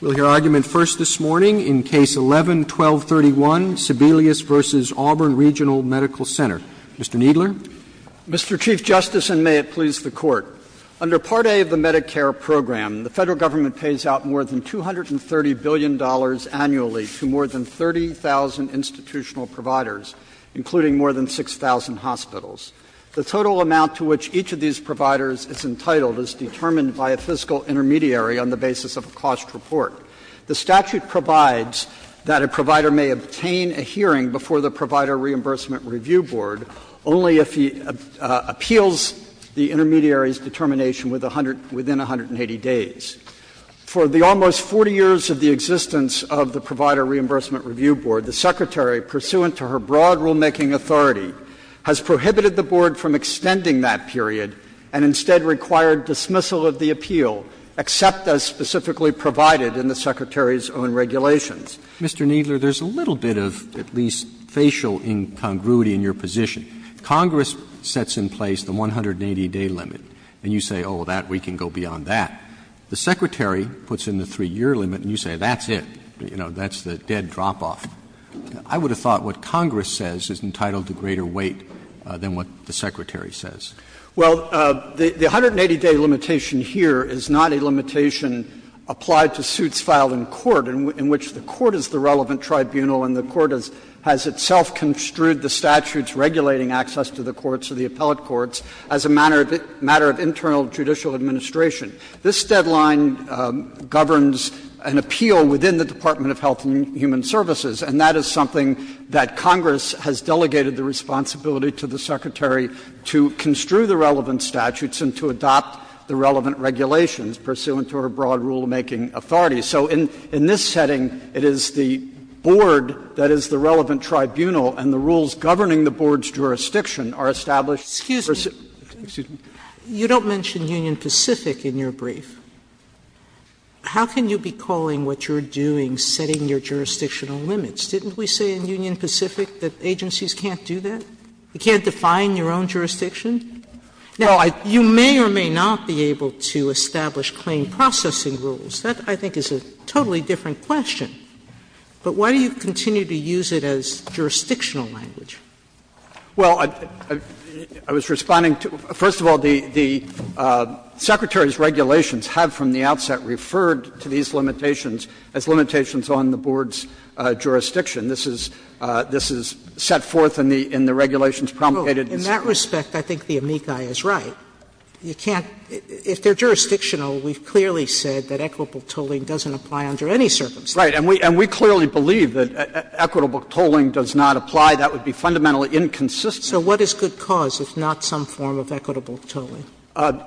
We'll hear argument first this morning in Case 11-1231, Sebelius v. Auburn Regional Medical Center. Mr. Kneedler. Mr. Chief Justice, and may it please the Court, under Part A of the Medicare program, the Federal Government pays out more than $230 billion annually to more than 30,000 institutional providers, including more than 6,000 hospitals. The total amount to which each of these providers is entitled is determined by a fiscal intermediary on the basis of a cost report. The statute provides that a provider may obtain a hearing before the Provider Reimbursement Review Board only if he appeals the intermediary's determination within 180 days. For the almost 40 years of the existence of the Provider Reimbursement Review Board, the Secretary, pursuant to her broad rulemaking authority, has prohibited the Board from extending that period, and instead required dismissal of the appeal, except as specifically provided in the Secretary's own regulations. Mr. Kneedler, there's a little bit of, at least, facial incongruity in your position. Congress sets in place the 180-day limit, and you say, oh, that, we can go beyond that. The Secretary puts in the 3-year limit, and you say, that's it. You know, that's the dead drop-off. I would have thought what Congress says is entitled to greater weight than what the Secretary says. Kneedler, Well, the 180-day limitation here is not a limitation applied to suits filed in court, in which the court is the relevant tribunal and the court has itself construed the statute's regulating access to the courts or the appellate courts as a matter of internal judicial administration. This deadline governs an appeal within the Department of Health and Human Services, and that is something that Congress has delegated the responsibility to the Secretary to construe the relevant statutes and to adopt the relevant regulations pursuant to our broad rulemaking authority. So in this setting, it is the board that is the relevant tribunal, and the rules governing the board's jurisdiction are established. Sotomayor, You don't mention Union Pacific in your brief. How can you be calling what you're doing setting your jurisdictional limits? Didn't we say in Union Pacific that agencies can't do that? You can't define your own jurisdiction? Now, you may or may not be able to establish claim processing rules. That, I think, is a totally different question. But why do you continue to use it as jurisdictional language? Kneedler, Well, I was responding to the – first of all, the Secretary's regulations have from the outset referred to these limitations as limitations on the board's jurisdiction. This is set forth in the regulations promulgated in this case. Sotomayor, In that respect, I think the amici is right. You can't – if they're jurisdictional, we've clearly said that equitable tolling doesn't apply under any circumstances. Kneedler, Right. And we clearly believe that equitable tolling does not apply. That would be fundamentally inconsistent. Sotomayor, So what is good cause if not some form of equitable tolling? Kneedler,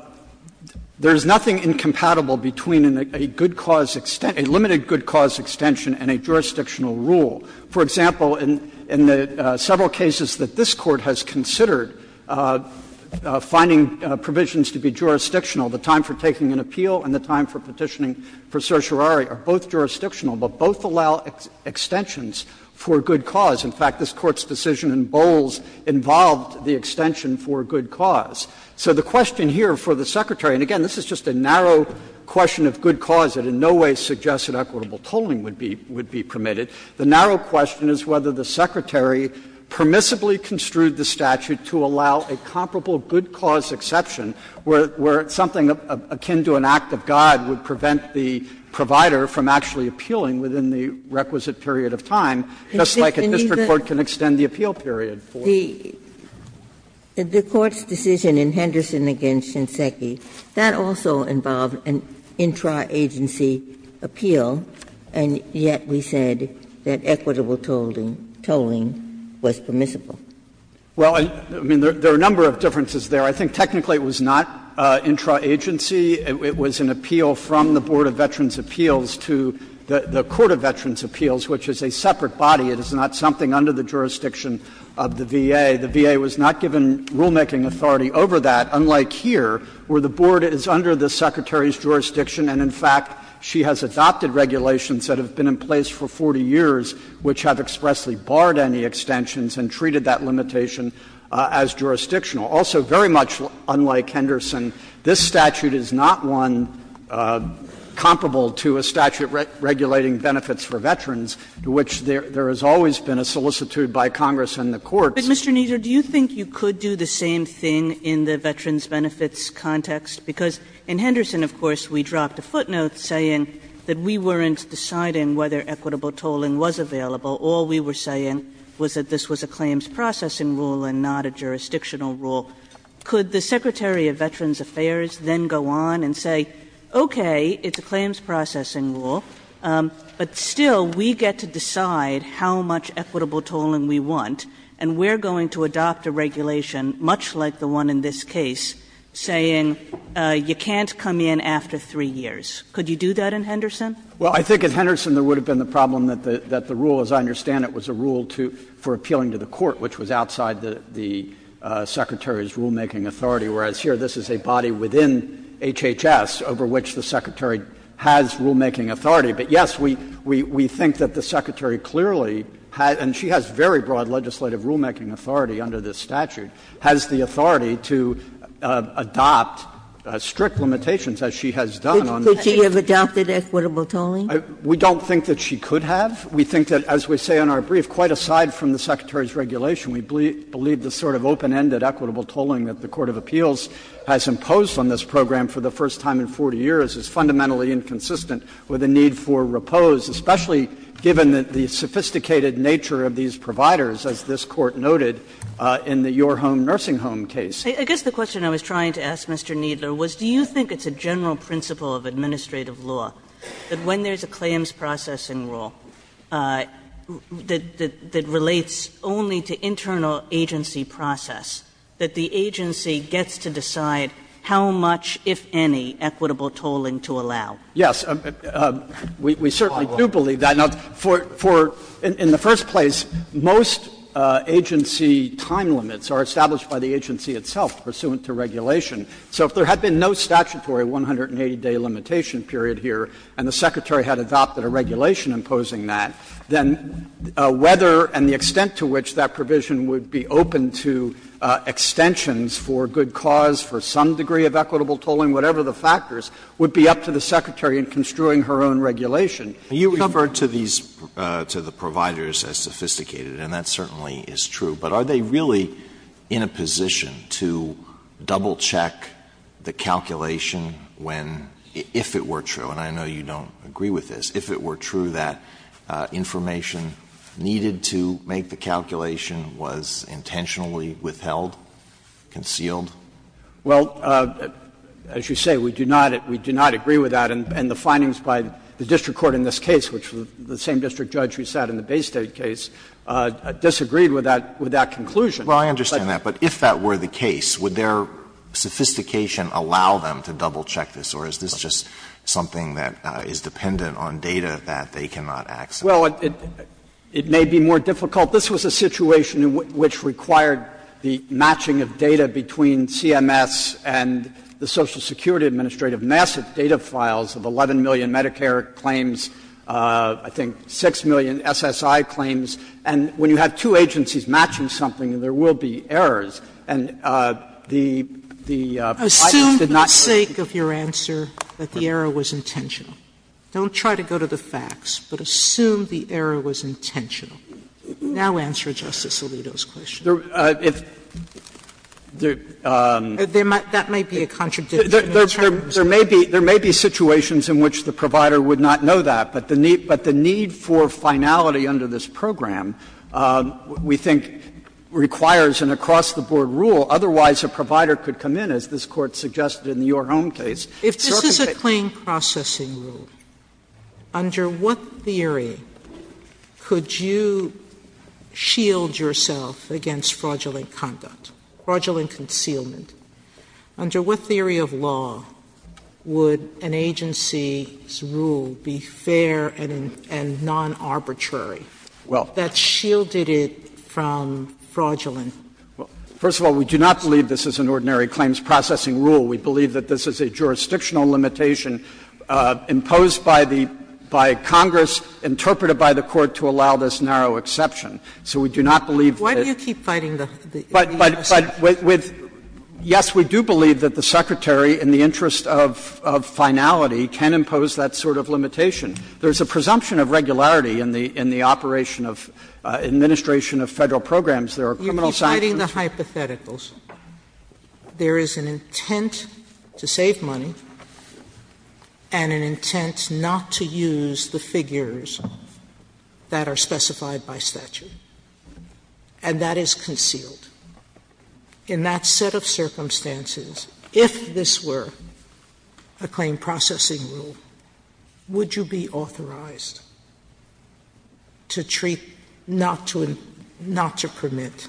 There is nothing incompatible between a good cause – a limited good cause extension and a jurisdictional rule. For example, in the several cases that this Court has considered, finding provisions to be jurisdictional, the time for taking an appeal and the time for petitioning for certiorari are both jurisdictional, but both allow extensions for good cause. In fact, this Court's decision in Bowles involved the extension for good cause. So the question here for the Secretary, and again, this is just a narrow question of good cause that in no way suggests that equitable tolling would be permitted. The narrow question is whether the Secretary permissibly construed the statute to allow a comparable good cause exception, where something akin to an act of God would prevent the provider from actually appealing within the requisite period of time, just like a district court can extend the appeal period for. Ginsburg, The Court's decision in Henderson v. Shinseki, that also involved an intra-agency appeal, and yet we said that equitable tolling was permissible. Kneedler, Well, I mean, there are a number of differences there. I think technically it was not intra-agency. It was an appeal from the Board of Veterans' Appeals to the Court of Veterans' Appeals, which is a separate body. It is not something under the jurisdiction of the VA. The VA was not given rulemaking authority over that, unlike here, where the Board is under the Secretary's jurisdiction, and in fact, she has adopted regulations that have been in place for 40 years which have expressly barred any extensions and treated that limitation as jurisdictional. Also, very much unlike Henderson, this statute is not one comparable to a statute regulating benefits for veterans, to which there has always been a solicitude by Congress and the courts. Kagan But, Mr. Kneedler, do you think you could do the same thing in the veterans' benefits context? Because in Henderson, of course, we dropped a footnote saying that we weren't deciding whether equitable tolling was available. All we were saying was that this was a claims processing rule and not a jurisdictional rule. Could the Secretary of Veterans Affairs then go on and say, okay, it's a claims processing rule, but still we get to decide how much equitable tolling we want, and we're going to adopt a regulation much like the one in this case, saying you can't come in after 3 years? Could you do that in Henderson? Kneedler, Well, I think in Henderson there would have been the problem that the rule, as I understand it, was a rule for appealing to the court, which was outside the Secretary's rulemaking authority, whereas here this is a body within HHS over which the Secretary has rulemaking authority. But, yes, we think that the Secretary clearly has, and she has very broad legislative rulemaking authority under this statute, has the authority to adopt strict limitations as she has done on this case. Ginsburg Could she have adopted equitable tolling? Kneedler, We don't think that she could have. We think that, as we say in our brief, quite aside from the Secretary's regulation, we believe the sort of open-ended equitable tolling that the court of appeals has imposed on this program for the first time in 40 years is fundamentally inconsistent with the need for repose, especially given the sophisticated nature of these providers, as this Court noted in the Your Home Nursing Home case. Kagan I guess the question I was trying to ask, Mr. Kneedler, was do you think it's a general principle of administrative law that when there's a claims processing rule that relates only to internal agency process, that the agency gets to decide how much, if any, equitable tolling to allow? Kneedler, Yes. We certainly do believe that. For the first place, most agency time limits are established by the agency itself pursuant to regulation. So if there had been no statutory 180-day limitation period here and the Secretary had adopted a regulation imposing that, then whether and the extent to which that one degree of equitable tolling, whatever the factors, would be up to the Secretary in construing her own regulation. Alito You refer to these to the providers as sophisticated, and that certainly is true. But are they really in a position to double-check the calculation when, if it were true, and I know you don't agree with this, if it were true that information needed to make the calculation was intentionally withheld, concealed? Kneedler, Well, as you say, we do not agree with that. And the findings by the district court in this case, which was the same district judge who sat in the Baystate case, disagreed with that conclusion. Alito Well, I understand that. But if that were the case, would their sophistication allow them to double-check this, or is this just something that is dependent on data that they cannot access? Kneedler, Well, it may be more difficult. This was a situation in which required the matching of data between CMS and the Social Security Administrative Massive Data Files of 11 million Medicare claims, I think 6 million SSI claims. And when you have two agencies matching something, there will be errors. And the Fed did not say that the error was intentional. Don't try to go to the facts, but assume the error was intentional. Sotomayor Now answer Justice Alito's question. Kneedler, If there are Sotomayor That might be a contradiction in terms of Kneedler, There may be situations in which the provider would not know that, but the need for finality under this program, we think, requires an across-the-board rule, otherwise a provider could come in, as this Court suggested in the Your Home case, and circumvent it. Under the Claim Processing Rule, under what theory could you shield yourself against fraudulent conduct, fraudulent concealment? Under what theory of law would an agency's rule be fair and non-arbitrary that shielded it from fraudulent? Kneedler, Well, first of all, we do not believe this is an ordinary claims processing rule. We believe that this is a jurisdictional limitation imposed by the by Congress, interpreted by the Court to allow this narrow exception. So we do not believe that Sotomayor Why do you keep fighting the Kneedler, But, yes, we do believe that the Secretary, in the interest of finality, can impose that sort of limitation. There is a presumption of regularity in the operation of administration of Federal programs. There are criminal sanctions Sotomayor You keep fighting the hypotheticals. There is an intent to save money and an intent not to use the figures that are specified by statute, and that is concealed. In that set of circumstances, if this were a claim processing rule, would you be authorized to treat not to permit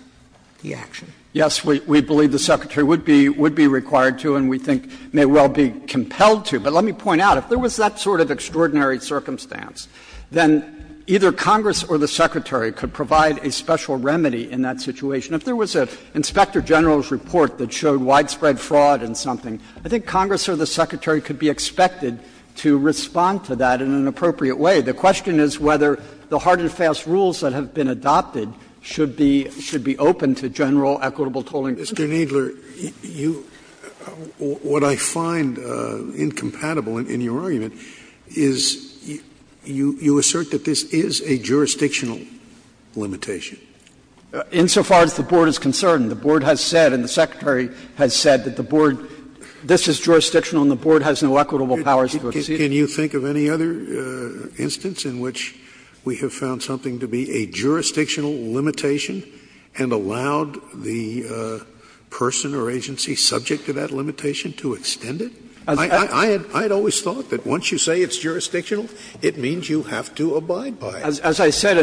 the action? Kneedler, Yes, we believe the Secretary would be required to and we think may well be compelled to. But let me point out, if there was that sort of extraordinary circumstance, then either Congress or the Secretary could provide a special remedy in that situation. If there was an Inspector General's report that showed widespread fraud in something, I think Congress or the Secretary could be expected to respond to that in an appropriate way. The question is whether the hard and fast rules that have been adopted should be open to general equitable tolling. Scalia Mr. Kneedler, what I find incompatible in your argument is you assert that this is a jurisdictional limitation. Kneedler, Insofar as the Board is concerned, the Board has said and the Secretary has said that the Board, this is jurisdictional and the Board has no equitable powers to exceed it. Scalia Can you think of any other instance in which we have found something to be a jurisdictional limitation and allowed the person or agency subject to that limitation to extend it? I had always thought that once you say it's jurisdictional, it means you have to abide by it. Kneedler As I said,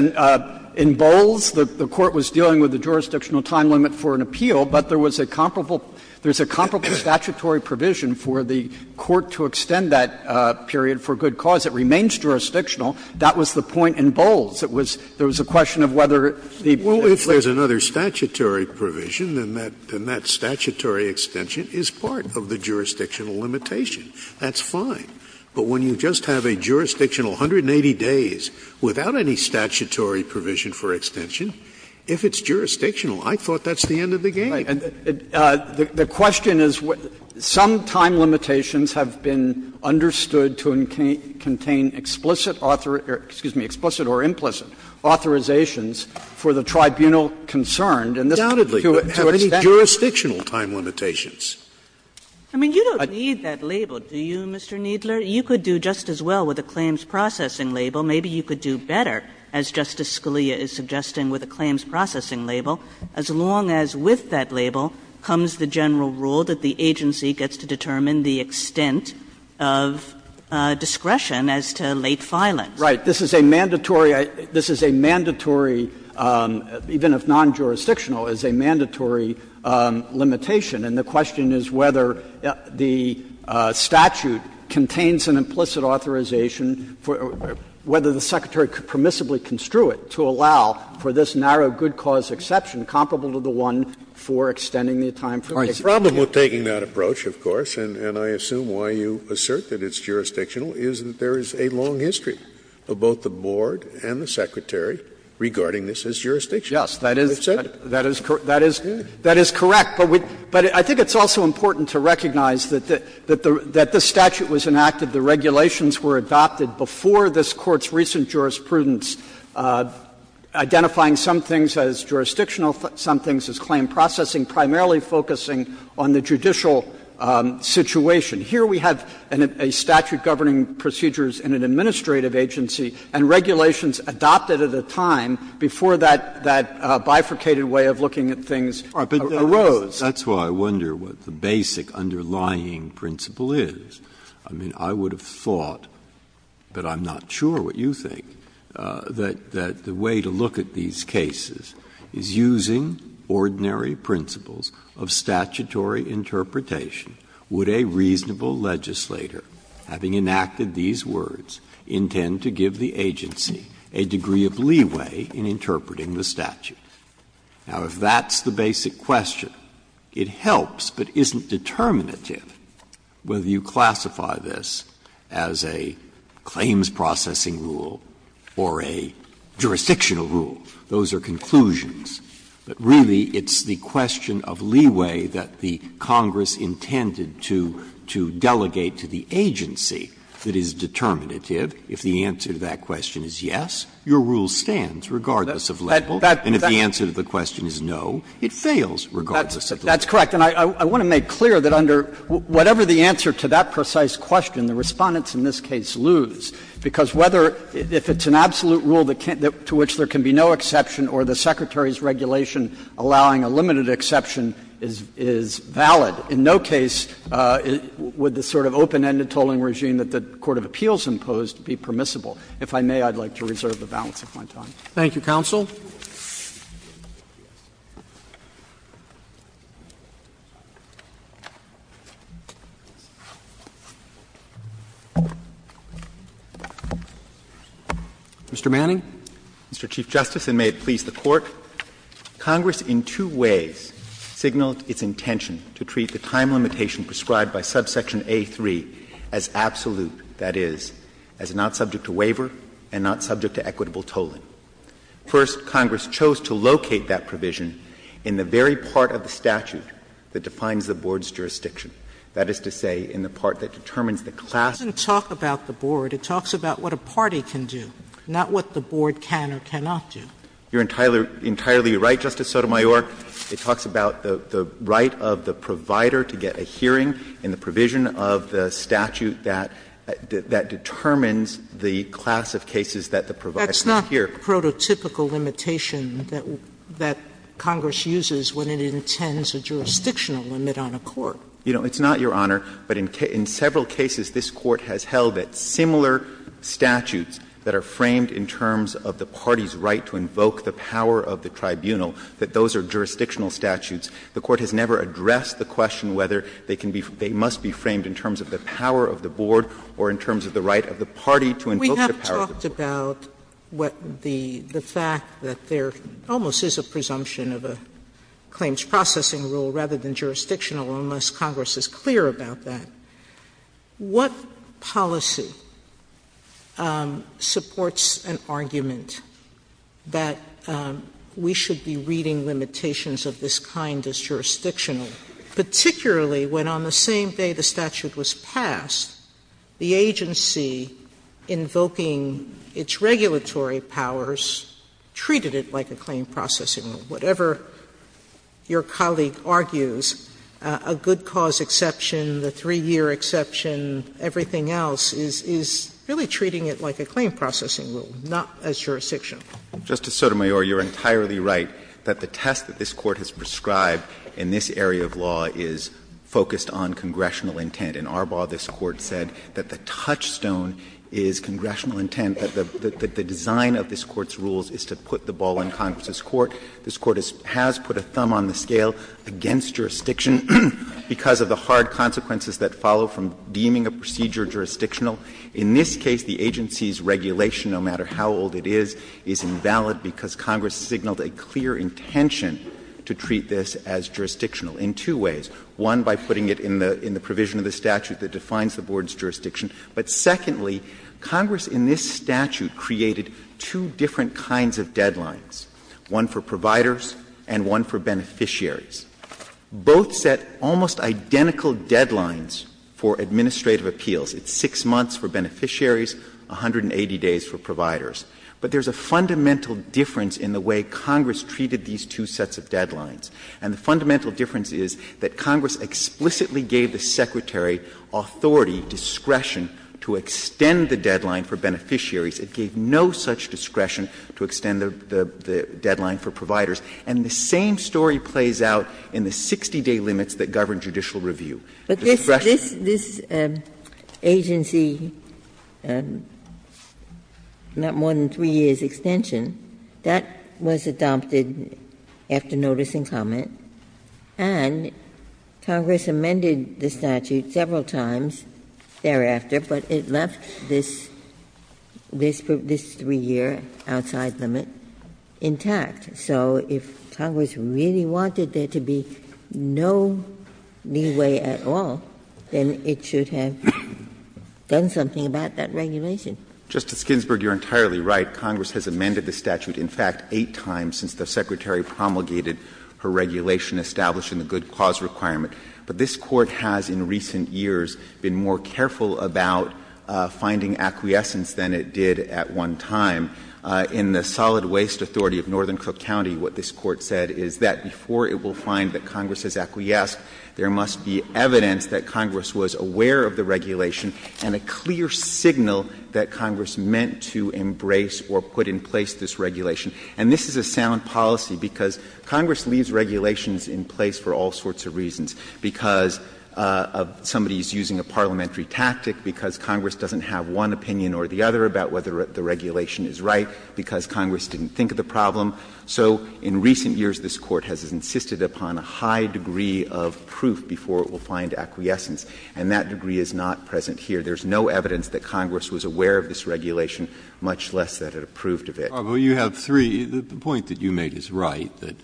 in Bowles, the Court was dealing with the jurisdictional time limit for an appeal, but there was a comparable statutory provision for the Court to extend that period for good cause. It remains jurisdictional. That was the point in Bowles. There was a question of whether the Scalia Well, if there's another statutory provision, then that statutory extension is part of the jurisdictional limitation. That's fine. But when you just have a jurisdictional 180 days without any statutory provision for extension, if it's jurisdictional, I thought that's the end of the game. Kneedler The question is, some time limitations have been understood to contain explicit author or implicit authorizations for the tribunal concerned, and this to an extent is not a jurisdictional time limitation. Kagan I mean, you don't need that label, do you, Mr. Kneedler? You could do just as well with a claims processing label. Maybe you could do better, as Justice Scalia is suggesting, with a claims processing label, as long as with that label comes the general rule that the agency gets to determine the extent of discretion as to late filings. Kneedler Right. This is a mandatory – this is a mandatory, even if non-jurisdictional, is a mandatory limitation. And the question is whether the statute contains an implicit authorization for – whether the Secretary could permissibly construe it to allow for this narrow good cause exception comparable to the one for extending the time for the execution. Well, taking that approach, of course, and I assume why you assert that it's jurisdictional is that there is a long history of both the board and the Secretary regarding this as jurisdictional. Kneedler Yes, that is – that is correct, but I think it's also important to recognize that the statute was enacted, the regulations were adopted before this Court's recent jurisprudence, identifying some things as jurisdictional, some things as claim processing, primarily focusing on the judicial situation. Here we have a statute governing procedures in an administrative agency and regulations adopted at a time before that bifurcated way of looking at things arose. Breyer That's why I wonder what the basic underlying principle is. I mean, I would have thought, but I'm not sure what you think, that the way to look at these cases is using ordinary principles of statutory interpretation. Would a reasonable legislator, having enacted these words, intend to give the agency a degree of leeway in interpreting the statute? Now, if that's the basic question, it helps, but isn't determinative whether you classify this as a claims processing rule or a jurisdictional rule? Those are conclusions, but really it's the question of leeway that the Congress intended to – to delegate to the agency that is determinative. If the answer to that question is yes, your rule stands, regardless of level. And if the answer to the question is no, it fails regardless of level. That's correct. And I want to make clear that under whatever the answer to that precise question, the Respondents in this case lose, because whether – if it's an absolute rule to which there can be no exception or the Secretary's regulation allowing a limited exception is valid, in no case would the sort of open-ended tolling regime that the court of appeals imposed be permissible. If I may, I'd like to reserve the balance of my time. Roberts. Thank you, counsel. Mr. Manning. Mr. Chief Justice, and may it please the Court. Congress in two ways signaled its intention to treat the time limitation prescribed by subsection A3 as absolute, that is, as not subject to waiver and not subject to equitable tolling. First, Congress chose to locate that provision in the very part of the statute that defines the board's jurisdiction, that is to say, in the part that determines the class of cases. Sotomayor, it talks about what a party can do, not what the board can or cannot do. You're entirely right, Justice Sotomayor. It talks about the right of the provider to get a hearing in the provision of the statute that determines the class of cases that the provider can hear. Sotomayor, that's not the prototypical limitation that Congress uses when it intends a jurisdictional limit on a court. You know, it's not, Your Honor, but in several cases this Court has held that similar statutes that are framed in terms of the party's right to invoke the power of the tribunal, that those are jurisdictional statutes. The Court has never addressed the question whether they can be or they must be framed in terms of the power of the board or in terms of the right of the party to invoke the power of the board. Sotomayor, we have talked about what the fact that there almost is a presumption of a claims processing rule rather than jurisdictional unless Congress is clear about that. What policy supports an argument that we should be reading limitations of this kind as jurisdictional, particularly when on the same day the statute was passed the agency invoking its regulatory powers treated it like a claim processing rule? Whatever your colleague argues, a good cause exception, the three-year exception, everything else, is really treating it like a claim processing rule, not as jurisdictional. Justice Sotomayor, you are entirely right that the test that this Court has prescribed in this area of law is focused on congressional intent. In Arbaugh, this Court said that the touchstone is congressional intent, that the design of this Court's rules is to put the ball in Congress's court. This Court has put a thumb on the scale against jurisdiction because of the hard consequences that follow from deeming a procedure jurisdictional. In this case, the agency's regulation, no matter how old it is, is invalid because Congress signaled a clear intention to treat this as jurisdictional in two ways, one by putting it in the provision of the statute that defines the board's jurisdiction, but secondly, Congress in this statute created two different kinds of deadlines, one for providers and one for beneficiaries. Both set almost identical deadlines for administrative appeals. It's 6 months for beneficiaries, 180 days for providers. But there's a fundamental difference in the way Congress treated these two sets of deadlines. And the fundamental difference is that Congress explicitly gave the Secretary authority, discretion, to extend the deadline for beneficiaries. It gave no such discretion to extend the deadline for providers. And the same story plays out in the 60-day limits that govern judicial review. Ginsburg. Ginsburg. Ginsburg. Ginsburg. But this agency, not more than 3 years' extension, that was adopted after notice and comment, and Congress amended the statute several times thereafter, but it left this 3-year outside limit intact. So if Congress really wanted there to be no leeway at all, then it should have done something about that regulation. Justice Ginsburg, you're entirely right. Congress has amended the statute, in fact, 8 times since the Secretary promulgated her regulation establishing the good cause requirement. But this Court has in recent years been more careful about finding acquiescence than it did at one time. In the Solid Waste Authority of Northern Cook County, what this Court said is that before it will find that Congress has acquiesced, there must be evidence that Congress was aware of the regulation and a clear signal that Congress meant to embrace or put in place this regulation. And this is a sound policy, because Congress leaves regulations in place for all sorts of reasons, because somebody is using a parliamentary tactic, because Congress doesn't have one opinion or the other about whether the regulation is right, because Congress didn't think of the problem. So in recent years, this Court has insisted upon a high degree of proof before it will find acquiescence, and that degree is not present here. There is no evidence that Congress was aware of this regulation, much less that it approved of it. Breyer, you have three. The point that you made is right, that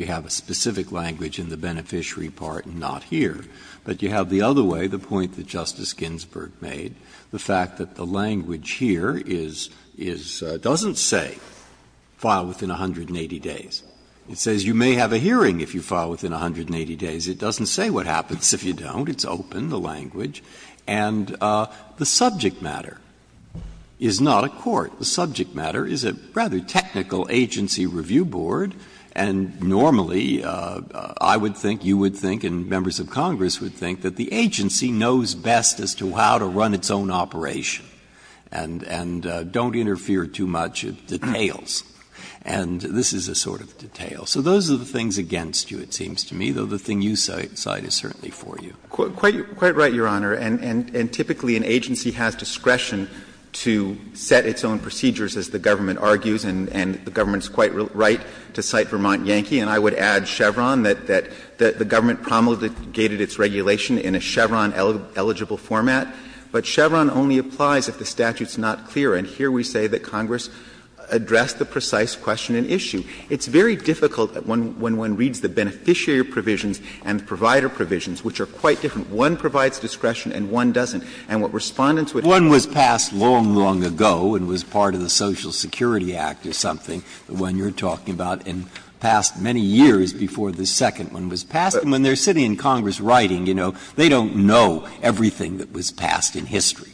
you have a specific language in the beneficiary part and not here. But you have the other way, the point that Justice Ginsburg made, the fact that the language here is doesn't say file within 180 days. It says you may have a hearing if you file within 180 days. It doesn't say what happens if you don't. It's open, the language. And the subject matter is not a court. The subject matter is a rather technical agency review board, and normally I would think, you would think, and members of Congress would think that the agency knows best as to how to run its own operation, and don't interfere too much with details. And this is a sort of detail. So those are the things against you, it seems to me, though the thing you cite is certainly for you. Rosenkranz, quite right, Your Honor. And typically an agency has discretion to set its own procedures, as the government argues, and the government is quite right to cite Vermont Yankee. And I would add Chevron, that the government promulgated its regulation in a Chevron-eligible format. But Chevron only applies if the statute is not clear. And here we say that Congress addressed the precise question and issue. It's very difficult when one reads the beneficiary provisions and the provider provisions, which are quite different. One provides discretion and one doesn't. And what Respondents would argue is that the agency has discretion to set its own procedures. Breyer, one was passed long, long ago and was part of the Social Security Act or something, the one you're talking about, and passed many years before the second one was passed. And when they're sitting in Congress writing, you know, they don't know everything that was passed in history.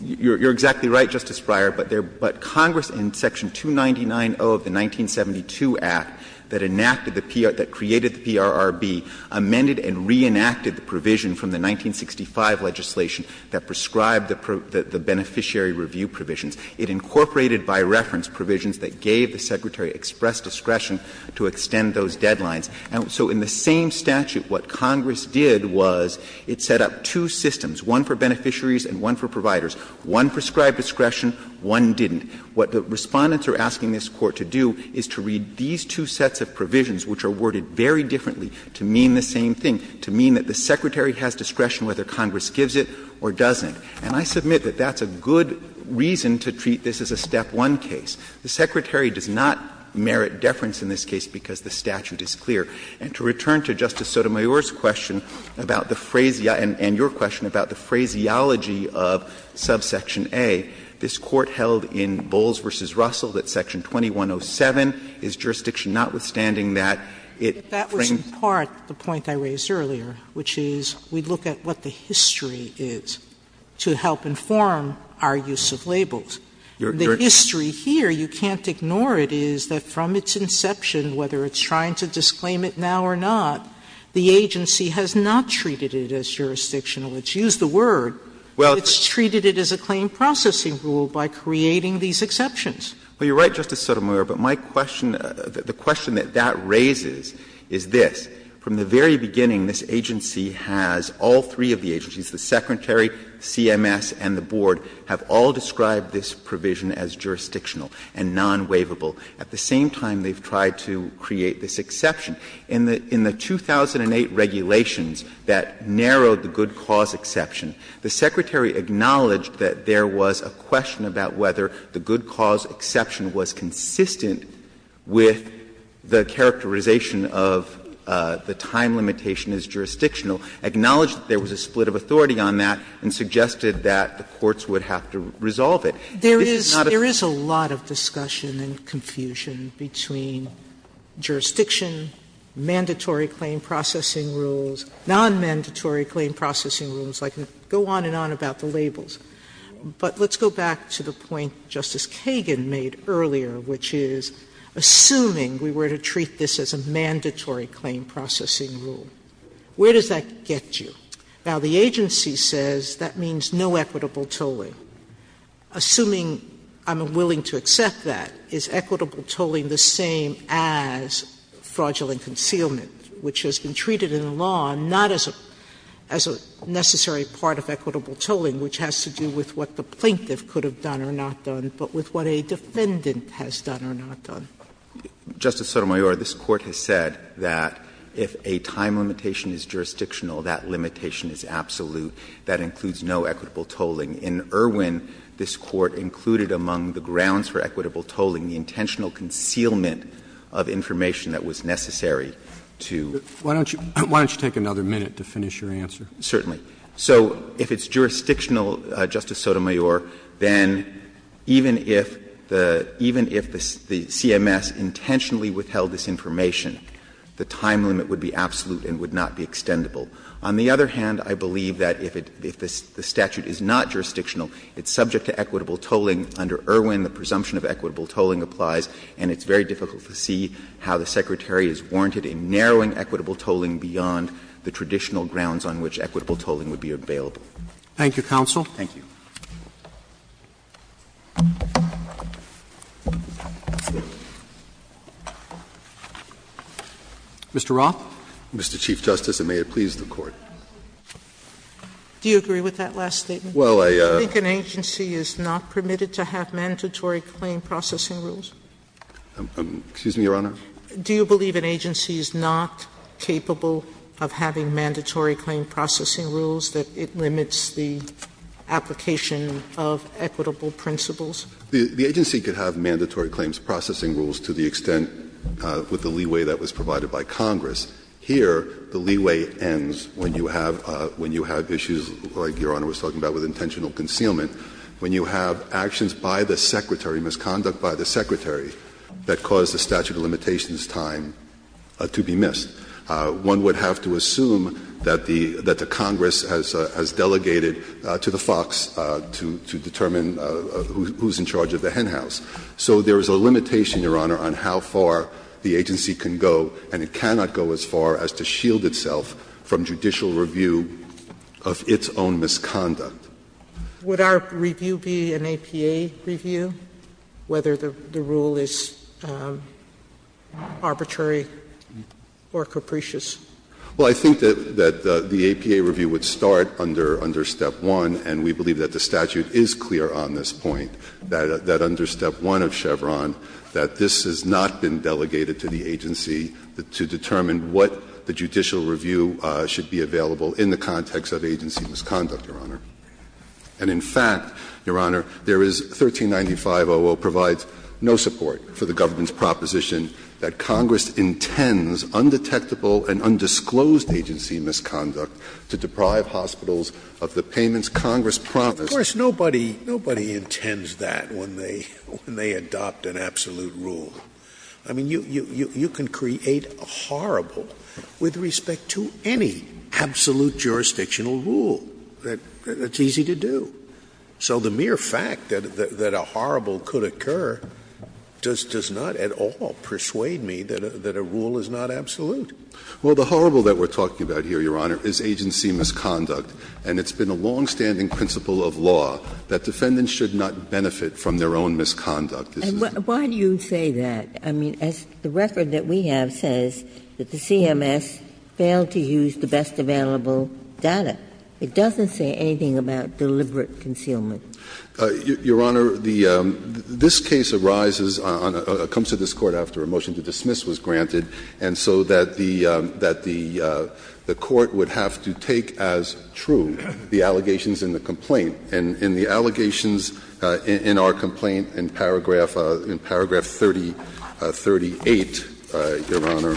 You're exactly right, Justice Breyer, but Congress in section 299.0 of the 1972 Act that enacted the PR that created the PRRB amended and reenacted the provision from the 1965 legislation that prescribed the beneficiary review provisions. It incorporated by reference provisions that gave the Secretary express discretion to extend those deadlines. And so in the same statute, what Congress did was it set up two systems, one for beneficiaries and one for providers. One prescribed discretion, one didn't. What the Respondents are asking this Court to do is to read these two sets of provisions, which are worded very differently, to mean the same thing, to mean that the Secretary has discretion whether Congress gives it or doesn't. And I submit that that's a good reason to treat this as a step one case. The Secretary does not merit deference in this case because the statute is clear. And to return to Justice Sotomayor's question about the phraseology of subsection A, this Court held in Bowles v. Russell that section 2107 is jurisdiction notwithstanding that it frames. Sotomayor, in part, the point I raised earlier, which is we look at what the history is to help inform our use of labels. The history here, you can't ignore it, is that from its inception, whether it's trying to disclaim it now or not, the agency has not treated it as jurisdictional. It's used the word. It's treated it as a claim processing rule by creating these exceptions. Well, you're right, Justice Sotomayor, but my question, the question that that raises is this. From the very beginning, this agency has, all three of the agencies, the Secretary, CMS, and the Board, have all described this provision as jurisdictional and non-waivable. At the same time, they've tried to create this exception. In the 2008 regulations that narrowed the good cause exception, the Secretary acknowledged that there was a question about whether the good cause exception was consistent with the characterization of the time limitation as jurisdictional, acknowledged that there was a split of authority on that, and suggested that the courts would have to resolve it. This is not a split. Sotomayor, there is a lot of discussion and confusion between jurisdiction, mandatory claim processing rules, non-mandatory claim processing rules. I can go on and on about the labels. But let's go back to the point Justice Kagan made earlier, which is, assuming we were to treat this as a mandatory claim processing rule, where does that get you? Now, the agency says that means no equitable tolling. Assuming I'm willing to accept that, is equitable tolling the same as fraudulent concealment, which has been treated in law not as a necessary part of equitable tolling, which has to do with what the plaintiff could have done or not done, but with what a defendant has done or not done? Justice Sotomayor, this Court has said that if a time limitation is jurisdictional, that limitation is absolute. That includes no equitable tolling. In Irwin, this Court included among the grounds for equitable tolling the intentional concealment of information that was necessary to do. Roberts, why don't you take another minute to finish your answer? Certainly. So if it's jurisdictional, Justice Sotomayor, then even if the CMS intentionally withheld this information, the time limit would be absolute and would not be extendable. On the other hand, I believe that if the statute is not jurisdictional, it's subject to equitable tolling. Under Irwin, the presumption of equitable tolling applies, and it's very difficult to see how the Secretary is warranted in narrowing equitable tolling beyond the traditional grounds on which equitable tolling would be available. Thank you, counsel. Thank you. Mr. Roth. Mr. Chief Justice, and may it please the Court. Do you agree with that last statement? Well, I think an agency is not permitted to do that. Do you believe an agency is permitted to have mandatory claim processing rules? Excuse me, Your Honor? Do you believe an agency is not capable of having mandatory claim processing rules, that it limits the application of equitable principles? The agency could have mandatory claims processing rules to the extent with the leeway that was provided by Congress. Here, the leeway ends when you have issues like Your Honor was talking about with intentional concealment, when you have actions by the Secretary, misconduct by the Secretary, that cause the statute of limitations time to be missed. One would have to assume that the Congress has delegated to the FOX to determine who is in charge of the hen house. So there is a limitation, Your Honor, on how far the agency can go, and it cannot go as far as to shield itself from judicial review of its own misconduct. Would our review be an APA review, whether the rule is arbitrary or capricious? Well, I think that the APA review would start under step 1, and we believe that the statute is clear on this point, that under step 1 of Chevron, that this has not been determined what the judicial review should be available in the context of agency misconduct, Your Honor. And in fact, Your Honor, there is 1395.00 provides no support for the government's proposition that Congress intends undetectable and undisclosed agency misconduct to deprive hospitals of the payments Congress promised. Of course, nobody intends that when they adopt an absolute rule. I mean, you can create a horrible with respect to any absolute jurisdictional rule. That's easy to do. So the mere fact that a horrible could occur does not at all persuade me that a rule is not absolute. Well, the horrible that we're talking about here, Your Honor, is agency misconduct. And it's been a longstanding principle of law that defendants should not benefit from their own misconduct. And why do you say that? I mean, as the record that we have says, that the CMS failed to use the best available data. It doesn't say anything about deliberate concealment. Your Honor, the this case arises on a comes to this Court after a motion to dismiss was granted, and so that the that the the Court would have to take as true the allegations in the complaint. And the allegations in our complaint in paragraph 3038, Your Honor,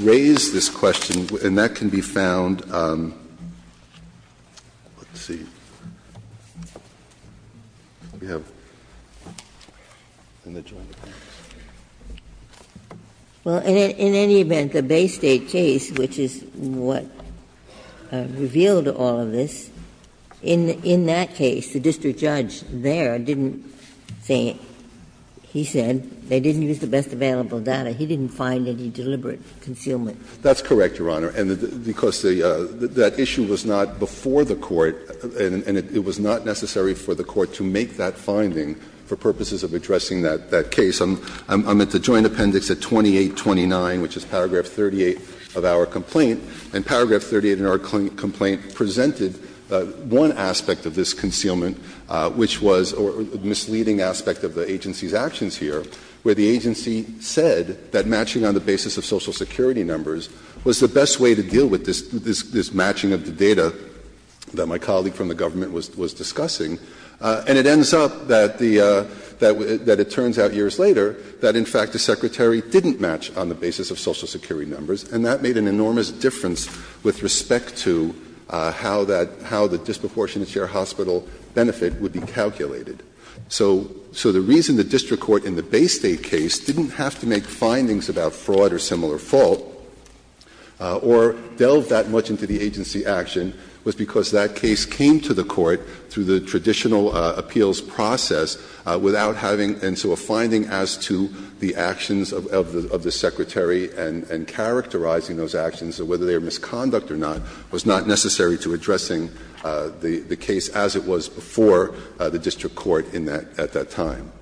raise this question. And that can be found, let's see, we have in the Joint Appendix. Well, in any event, the Bay State case, which is what revealed all of this, in that case, the district judge there didn't say, he said, they didn't use the best available data. He didn't find any deliberate concealment. That's correct, Your Honor, because that issue was not before the Court, and it was not necessary for the Court to make that finding for purposes of addressing that case. I'm at the Joint Appendix at 2829, which is paragraph 38 of our complaint. And paragraph 38 in our complaint presented one aspect of this concealment, which was a misleading aspect of the agency's actions here, where the agency said that matching on the basis of Social Security numbers was the best way to deal with this matching of the data that my colleague from the government was discussing. And it ends up that the — that it turns out years later that, in fact, the Secretary didn't match on the basis of Social Security numbers, and that made an enormous difference with respect to how that — how the disproportionate share hospital benefit would be calculated. So the reason the district court in the Bay State case didn't have to make findings about fraud or similar fault or delve that much into the agency action was because that case came to the Court through the traditional appeals process without having — and so a finding as to the actions of the Secretary and characterizing those actions, whether they were misconduct or not, was not necessary to addressing the case as it was before the district court in that — at that time.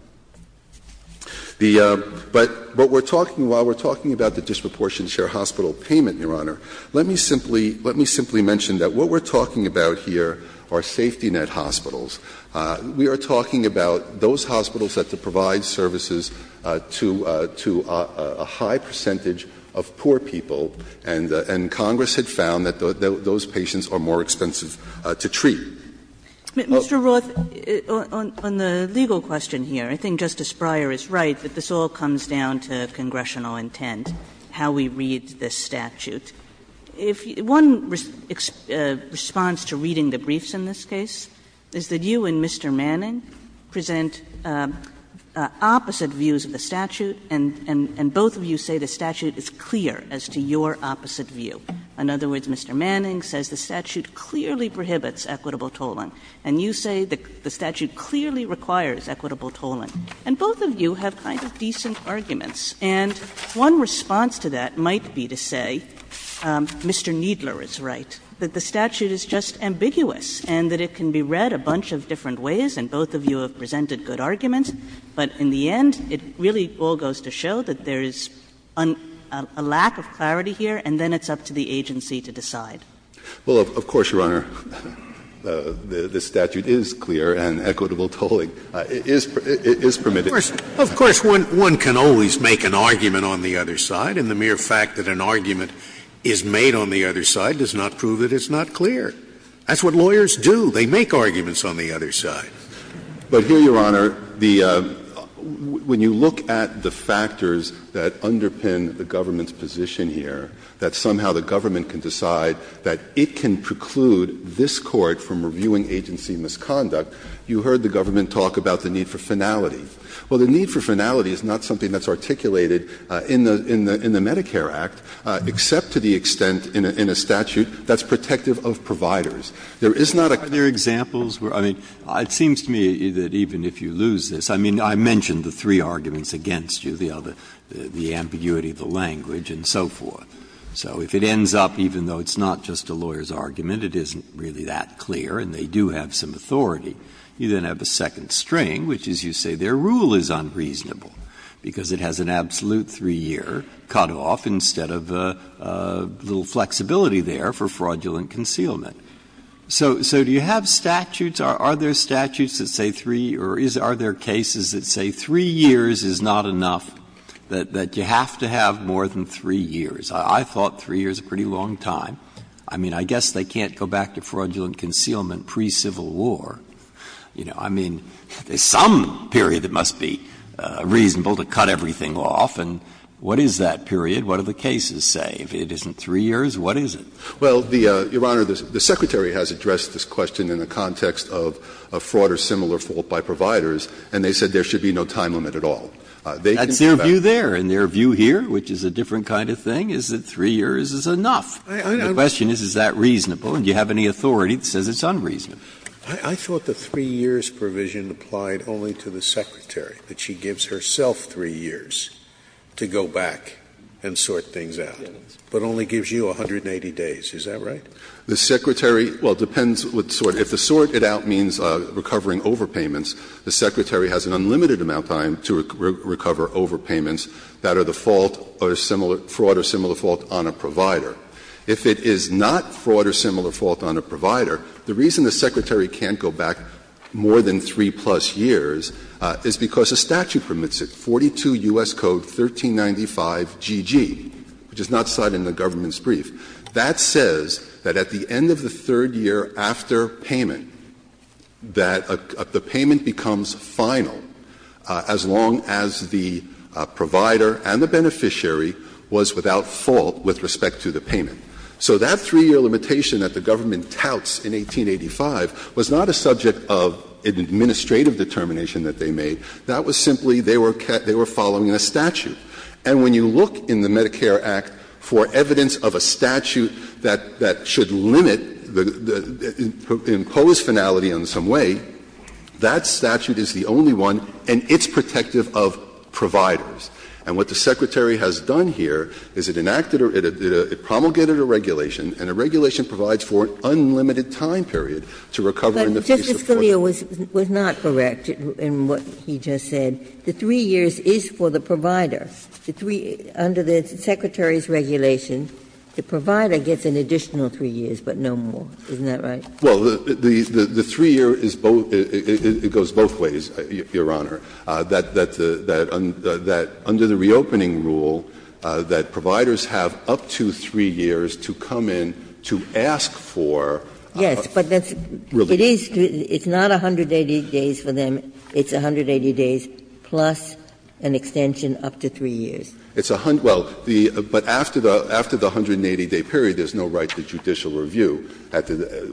The — but what we're talking — while we're talking about the disproportionate share hospital payment, Your Honor, let me simply — let me simply mention that what we're talking about here are safety net hospitals. We are talking about those hospitals that provide services to — to a high percentage of poor people, and Congress had found that those patients are more expensive to treat. Sue Kagan Mr. Roth, on — on the legal question here, I think Justice Breyer is right that this all comes down to congressional intent, how we read this statute. If — one response to reading the briefs in this case is that you and Mr. Manning present opposite views of the statute, and — and both of you say the statute is clear as to your opposite view. In other words, Mr. Manning says the statute clearly prohibits equitable tolling, and you say the statute clearly requires equitable tolling. And both of you have kind of decent arguments, and one response to that might be to say Mr. Kneedler is right, that the statute is just ambiguous, and that it can be read a bunch of different ways, and both of you have presented good arguments. But in the end, it really all goes to show that there is a lack of clarity here, and then it's up to the agency to decide. Well, of course, Your Honor, the statute is clear and equitable tolling is permitted. Of course, one can always make an argument on the other side, and the mere fact that an argument is made on the other side does not prove that it's not clear. That's what lawyers do. They make arguments on the other side. But here, Your Honor, the — when you look at the factors that underpin the government's position here, that somehow the government can decide that it can preclude this court from reviewing agency misconduct, you heard the government talk about the need for finality. Well, the need for finality is not something that's articulated in the Medicare Act, except to the extent in a statute that's protective of providers. There is not a clear — Breyer, are there examples where — I mean, it seems to me that even if you lose this — I mean, I mentioned the three arguments against you, the ambiguity of the language and so forth. So if it ends up, even though it's not just a lawyer's argument, it isn't really that clear, and they do have some authority, you then have a second string, which is, you say, their rule is unreasonable because it has an absolute 3-year cutoff instead of a little flexibility there for fraudulent concealment. So do you have statutes? Are there statutes that say 3 — or are there cases that say 3 years is not enough, that you have to have more than 3 years? I thought 3 years is a pretty long time. I mean, I guess they can't go back to fraudulent concealment pre-Civil War. You know, I mean, there's some period that must be reasonable to cut everything off, and what is that period? What do the cases say? If it isn't 3 years, what is it? Well, Your Honor, the Secretary has addressed this question in the context of a fraud or similar fault by providers, and they said there should be no time limit at all. They can't go back to that. That's their view there, and their view here, which is a different kind of thing, is that 3 years is enough. The question is, is that reasonable, and do you have any authority that says it's unreasonable? I thought the 3 years provision applied only to the Secretary, that she gives herself 3 years to go back and sort things out, but only gives you 180 days. Is that right? The Secretary — well, it depends what sort. If the sort it out means recovering overpayments, the Secretary has an unlimited amount of time to recover overpayments that are the fault or similar — fraud or similar fault on a provider. If it is not fraud or similar fault on a provider, the reason the Secretary can't go back more than 3-plus years is because a statute permits it, 42 U.S. Code 1395GG, which is not cited in the government's brief. That says that at the end of the third year after payment, that the payment becomes final as long as the provider and the beneficiary was without fault with respect to the payment. So that 3-year limitation that the government touts in 1885 was not a subject of an administrative determination that they made. That was simply they were following a statute. And when you look in the Medicare Act for evidence of a statute that should limit the imposed finality in some way, that statute is the only one, and it's protective of providers. And what the Secretary has done here is it enacted a — it promulgated a regulation, and the regulation provides for an unlimited time period to recover in the face of fraud. Ginsburg. But Justice Scalia was not correct in what he just said. The 3 years is for the provider. The 3 — under the Secretary's regulation, the provider gets an additional 3 years, but no more. Isn't that right? Well, the 3-year is both — it goes both ways, Your Honor. That under the reopening rule, that providers have up to 3 years to come in to ask for relief. Yes, but that's — it is — it's not 180 days for them. It's 180 days plus an extension up to 3 years. It's a — well, the — but after the 180-day period, there's no right to judicial review.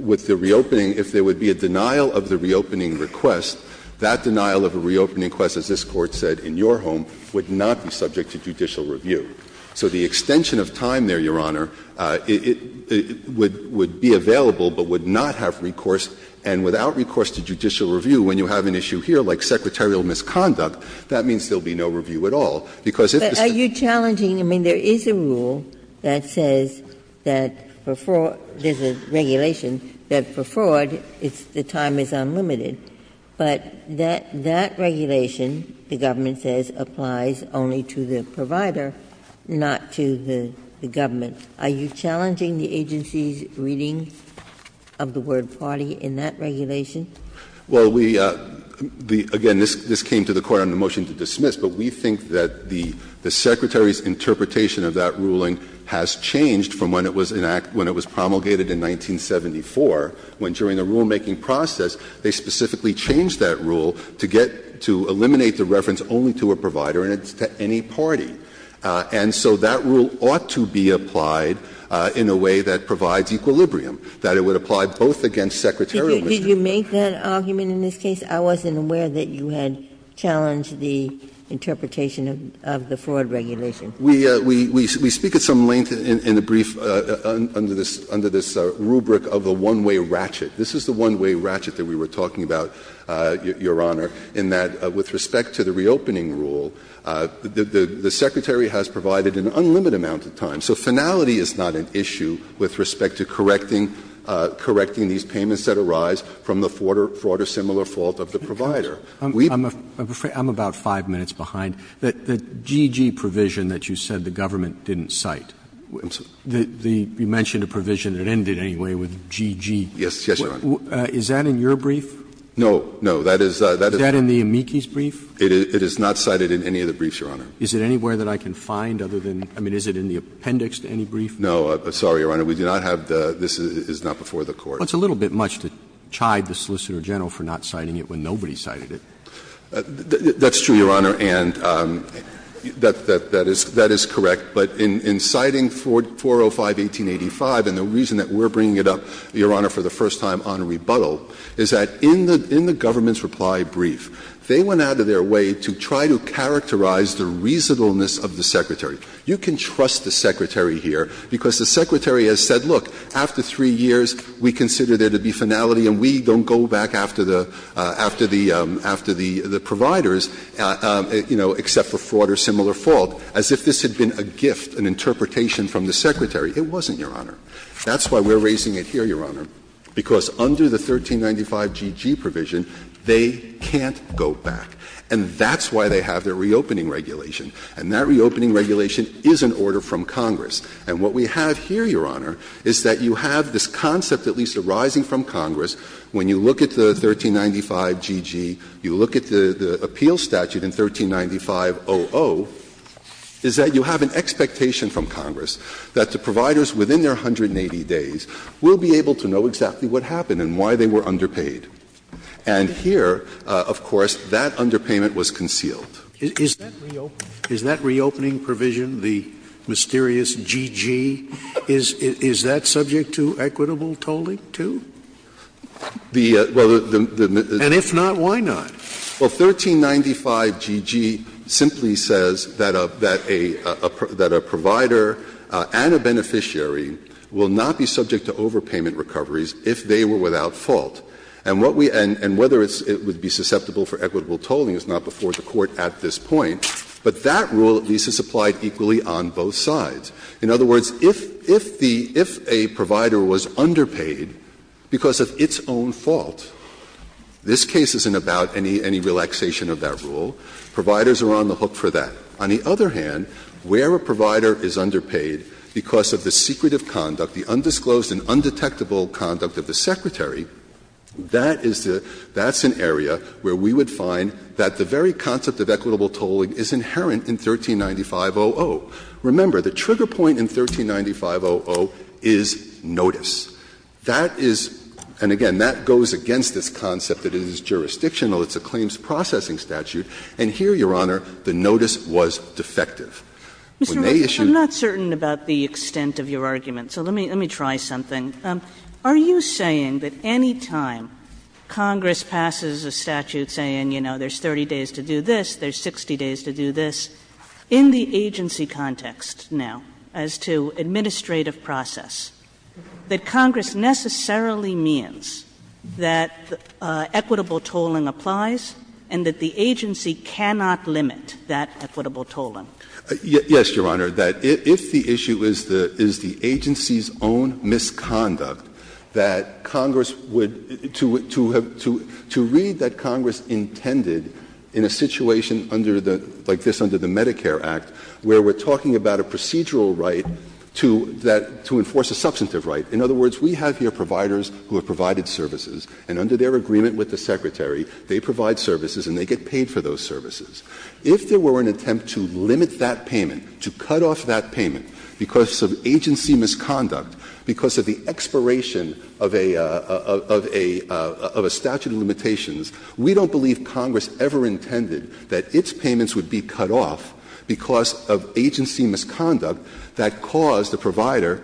With the reopening, if there would be a denial of the reopening request, that denial of a reopening request, as this Court said, in your home, would not be subject to judicial review. So the extension of time there, Your Honor, it would be available but would not have recourse, and without recourse to judicial review, when you have an issue here like secretarial misconduct, that means there will be no review at all, because if the State— But are you challenging — I mean, there is a rule that says that for fraud — there's a regulation that for fraud, it's — the time is unlimited. But that — that regulation, the government says, applies only to the provider, not to the — the government. Are you challenging the agency's reading of the word fraud in that regulation? Well, we — the — again, this came to the Court on a motion to dismiss, but we think that the — the Secretary's interpretation of that ruling has changed from when it was enacted — when it was promulgated in 1974, when during the rulemaking process, they specifically changed that rule to get — to eliminate the reference only to a provider, and it's to any party. And so that rule ought to be applied in a way that provides equilibrium, that it would apply both against secretarial misconduct. Did you make that argument in this case? I wasn't aware that you had challenged the interpretation of the fraud regulation. We — we speak at some length in the brief under this — under this rubric of a one-way ratchet. This is the one-way ratchet that we were talking about, Your Honor, in that, with respect to the reopening rule, the — the Secretary has provided an unlimited amount of time. So finality is not an issue with respect to correcting — correcting these payments that arise from the fraud or similar fault of the provider. I'm afraid I'm about five minutes behind. The — the GG provision that you said the government didn't cite, the — you mentioned a provision that ended anyway with GG. Yes. Yes, Your Honor. Is that in your brief? No. No. That is — that is — Is that in the amici's brief? It is not cited in any of the briefs, Your Honor. Is it anywhere that I can find other than — I mean, is it in the appendix to any brief? No. Sorry, Your Honor. We do not have the — this is not before the Court. Well, it's a little bit much to chide the Solicitor General for not citing it when nobody cited it. That's true, Your Honor, and that — that is — that is correct. But in — in citing 405, 1885, and the reason that we're bringing it up, Your Honor, for the first time on rebuttal, is that in the — in the government's reply brief, they went out of their way to try to characterize the reasonableness of the Secretary. You can trust the Secretary here, because the Secretary has said, look, after 3 years, we consider there to be finality and we don't go back after the — after the — after the — the providers, you know, except for fraud or similar fault, as if this had been a gift, an interpretation from the Secretary. It wasn't, Your Honor. That's why we're raising it here, Your Honor, because under the 1395GG provision, they can't go back. And that's why they have their reopening regulation. And that reopening regulation is an order from Congress. And what we have here, Your Honor, is that you have this concept at least arising from Congress when you look at the 1395GG, you look at the — the appeal statute in 1395-00, is that you have an expectation from Congress that the providers within their 180 days will be able to know exactly what happened and why they were underpaid. And here, of course, that underpayment was concealed. Scalia. Is that reopening provision, the mysterious GG, is that subject to equitable tolling, too? And if not, why not? Well, 1395GG simply says that a — that a — that a provider and a beneficiary will not be subject to overpayment recoveries if they were without fault. And what we — and whether it's — it would be susceptible for equitable tolling is not before the Court at this point. But that rule, at least, is applied equally on both sides. In other words, if — if the — if a provider was underpaid because of its own fault, this case isn't about any — any relaxation of that rule. Providers are on the hook for that. On the other hand, where a provider is underpaid because of the secretive conduct, the undisclosed and undetectable conduct of the Secretary, that is the — that's an area where we would find that the very concept of equitable tolling is inherent in 1395-00. Remember, the trigger point in 1395-00 is notice. That is — and again, that goes against this concept that it is jurisdictional. It's a claims processing statute. And here, Your Honor, the notice was defective. When they issued — Kagan. I'm not certain about the extent of your argument, so let me — let me try something. Are you saying that any time Congress passes a statute saying, you know, there's 30 days to do this, there's 60 days to do this, in the agency context now as to administrative process, that Congress necessarily means that equitable tolling applies and that the agency cannot limit that equitable tolling? Yes, Your Honor. That if the issue is the — is the agency's own misconduct, that Congress would — to read that Congress intended in a situation under the — like this under the Medicare Act, where we're talking about a procedural right to that — to enforce a substantive right. In other words, we have here providers who have provided services, and under their agreement with the Secretary, they provide services and they get paid for those services. If there were an attempt to limit that payment, to cut off that payment because of agency misconduct, because of the expiration of a — of a statute of limitations, we don't believe Congress ever intended that its payments would be cut off because of agency misconduct that caused the provider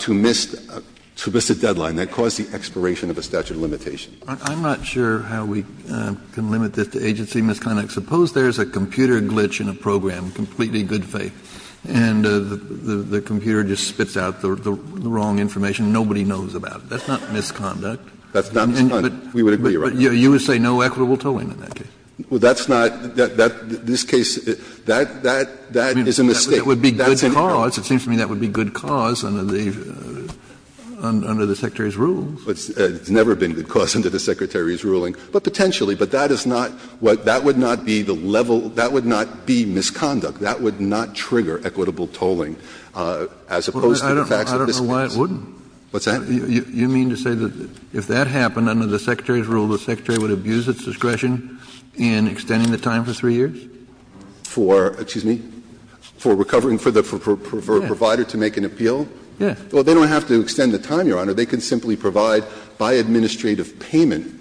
to miss — to miss a deadline, that caused the expiration of a statute of limitations. I'm not sure how we can limit this to agency misconduct. Suppose there's a computer glitch in a program, completely good faith, and the computer just spits out the wrong information and nobody knows about it. That's not misconduct. That's not misconduct. We would agree, Your Honor. Kennedy, you would say no equitable tolling in that case. Well, that's not — that — this case, that — that is a mistake. That's an error. It would be good cause. It seems to me that would be good cause under the — under the Secretary's rules. It's never been good cause under the Secretary's ruling, but potentially. But that is not what — that would not be the level — that would not be misconduct. That would not trigger equitable tolling, as opposed to the facts of this case. I don't know why it wouldn't. What's that? You mean to say that if that happened, under the Secretary's rule, the Secretary would abuse its discretion in extending the time for three years? For — excuse me, for recovering — for the — for a provider to make an appeal? Yes. Well, they don't have to extend the time, Your Honor. They can simply provide by administrative payment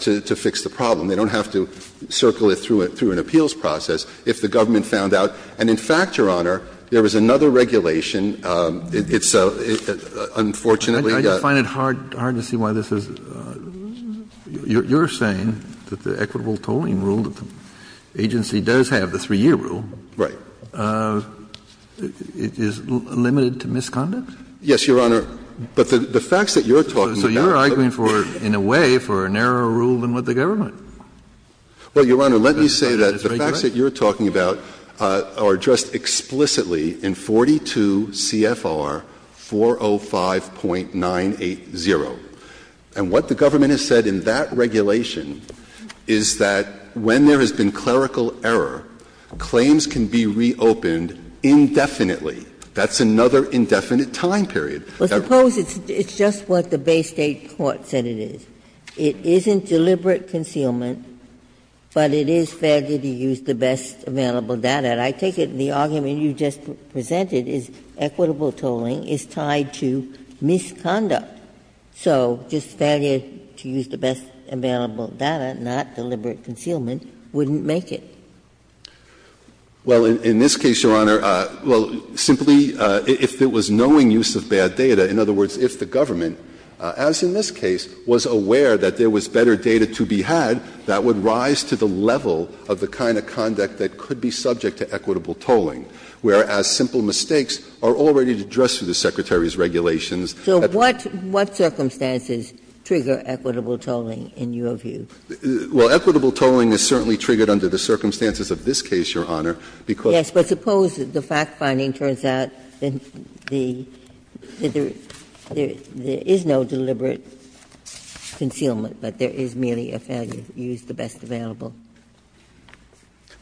to fix the problem. They don't have to circle it through an appeals process. If the government found out — and in fact, Your Honor, there is another regulation. It's a — unfortunately, a— I just find it hard — hard to see why this is — you're saying that the equitable tolling rule that the agency does have, the three-year rule— Right. —is limited to misconduct? Yes, Your Honor. But the facts that you're talking about— So you're arguing for — in a way, for a narrower rule than what the government is. Well, Your Honor, let me say that the facts that you're talking about are addressed explicitly in 42 C.F.R. 405.980. And what the government has said in that regulation is that when there has been clerical error, claims can be reopened indefinitely. That's another indefinite time period. Well, suppose it's just what the Bay State court said it is. It isn't deliberate concealment, but it is fair to use the best available data. I take it the argument you just presented is equitable tolling is tied to misconduct. So just failure to use the best available data, not deliberate concealment, wouldn't make it. Well, in this case, Your Honor, well, simply if there was knowing use of bad data, in other words, if the government, as in this case, was aware that there was better data to be had, that would rise to the level of the kind of conduct that could be subject to equitable tolling, whereas simple mistakes are already addressed through the Secretary's regulations. So what circumstances trigger equitable tolling in your view? Well, equitable tolling is certainly triggered under the circumstances of this case, Your Honor, because Yes, but suppose the fact-finding turns out that there is no deliberate concealment, but there is merely a failure to use the best available data.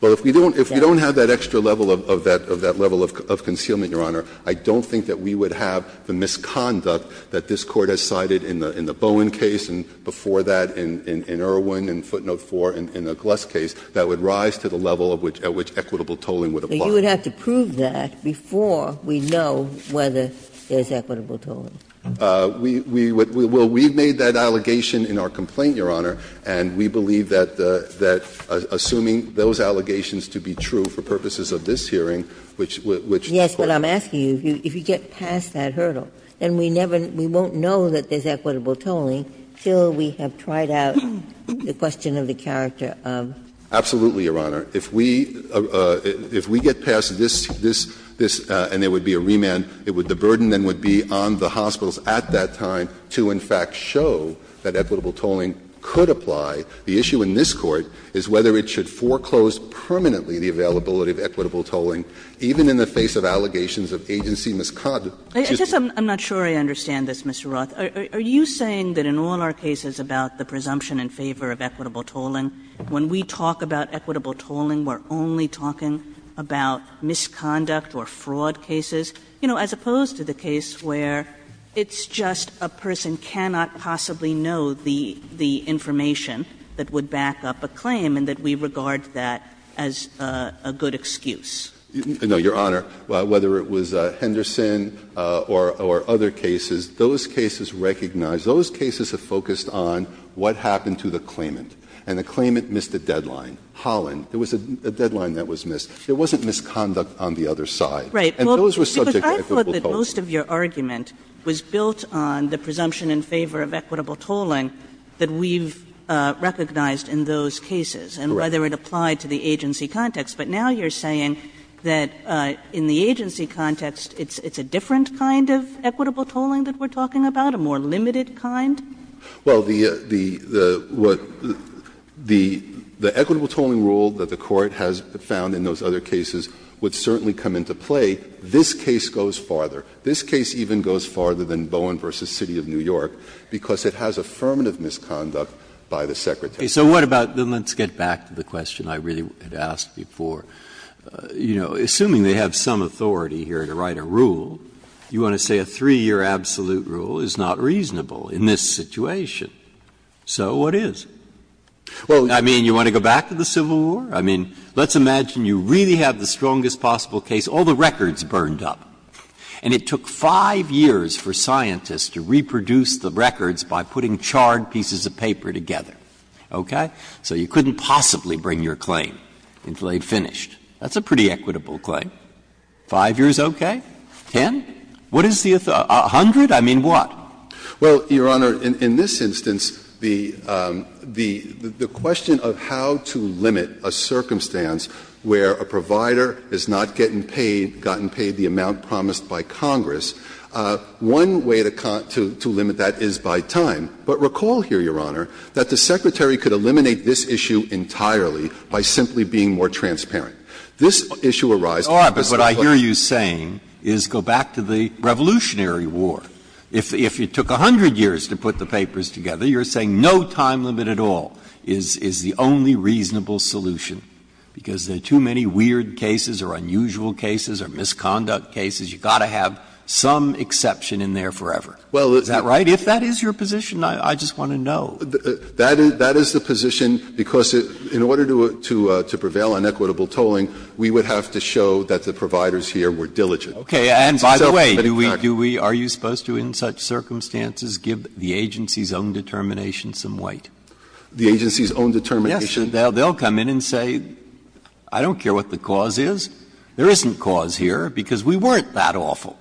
Well, if we don't have that extra level of that level of concealment, Your Honor, I don't think that we would have the misconduct that this Court has cited in the Bowen case and before that in Irwin and Footnote 4 in the Glusk case that would rise to the level at which equitable tolling would apply. But you would have to prove that before we know whether there is equitable tolling. We would we will we've made that allegation in our complaint, Your Honor, and we believe that assuming those allegations to be true for purposes of this hearing, which Yes, but I'm asking you, if you get past that hurdle, then we won't know that there's equitable tolling until we have tried out the question of the character of Absolutely, Your Honor. If we get past this and there would be a remand, the burden then would be on the hospitals at that time to in fact show that equitable tolling could apply. The issue in this Court is whether it should foreclose permanently the availability of equitable tolling, even in the face of allegations of agency misconduct. I'm just I'm not sure I understand this, Mr. Roth. Are you saying that in all our cases about the presumption in favor of equitable tolling, when we talk about equitable tolling, we're only talking about misconduct or fraud cases? You know, as opposed to the case where it's just a person cannot possibly know the information that would back up a claim and that we regard that as a good excuse. No, Your Honor. Whether it was Henderson or other cases, those cases recognize, those cases have focused on what happened to the claimant, and the claimant missed a deadline. Holland, there was a deadline that was missed. There wasn't misconduct on the other side. Right. And those were subject to equitable tolling. But I thought that most of your argument was built on the presumption in favor of equitable tolling that we've recognized in those cases and whether it applied to the agency context. But now you're saying that in the agency context, it's a different kind of equitable tolling that we're talking about, a more limited kind? Well, the equitable tolling rule that the Court has found in those other cases would certainly come into play. This case goes farther. This case even goes farther than Bowen v. City of New York because it has affirmative misconduct by the Secretary. So what about the let's get back to the question I really had asked before. You know, assuming they have some authority here to write a rule, you want to say a 3-year absolute rule is not reasonable in this situation. So what is? Well, I mean, you want to go back to the Civil War? I mean, let's imagine you really have the strongest possible case, all the records burned up, and it took 5 years for scientists to reproduce the records by putting charred pieces of paper together, okay? So you couldn't possibly bring your claim until they'd finished. That's a pretty equitable claim. 5 years okay? 10? What is the 100th? I mean, what? Well, Your Honor, in this instance, the question of how to limit a certain circumstance where a provider is not getting paid, gotten paid the amount promised by Congress, one way to limit that is by time. But recall here, Your Honor, that the Secretary could eliminate this issue entirely by simply being more transparent. This issue arises because the Court says, well, let's go back to the Revolutionary War. If it took 100 years to put the papers together, you're saying no time limit at all is the only reasonable solution, because there are too many weird cases or unusual cases or misconduct cases. You've got to have some exception in there forever. Is that right? If that is your position, I just want to know. That is the position, because in order to prevail on equitable tolling, we would have to show that the providers here were diligent. Okay. And by the way, do we do we are you supposed to, in such circumstances, give the agency's own determination some weight? The agency's own determination? Yes. They'll come in and say, I don't care what the cause is. There isn't cause here, because we weren't that awful.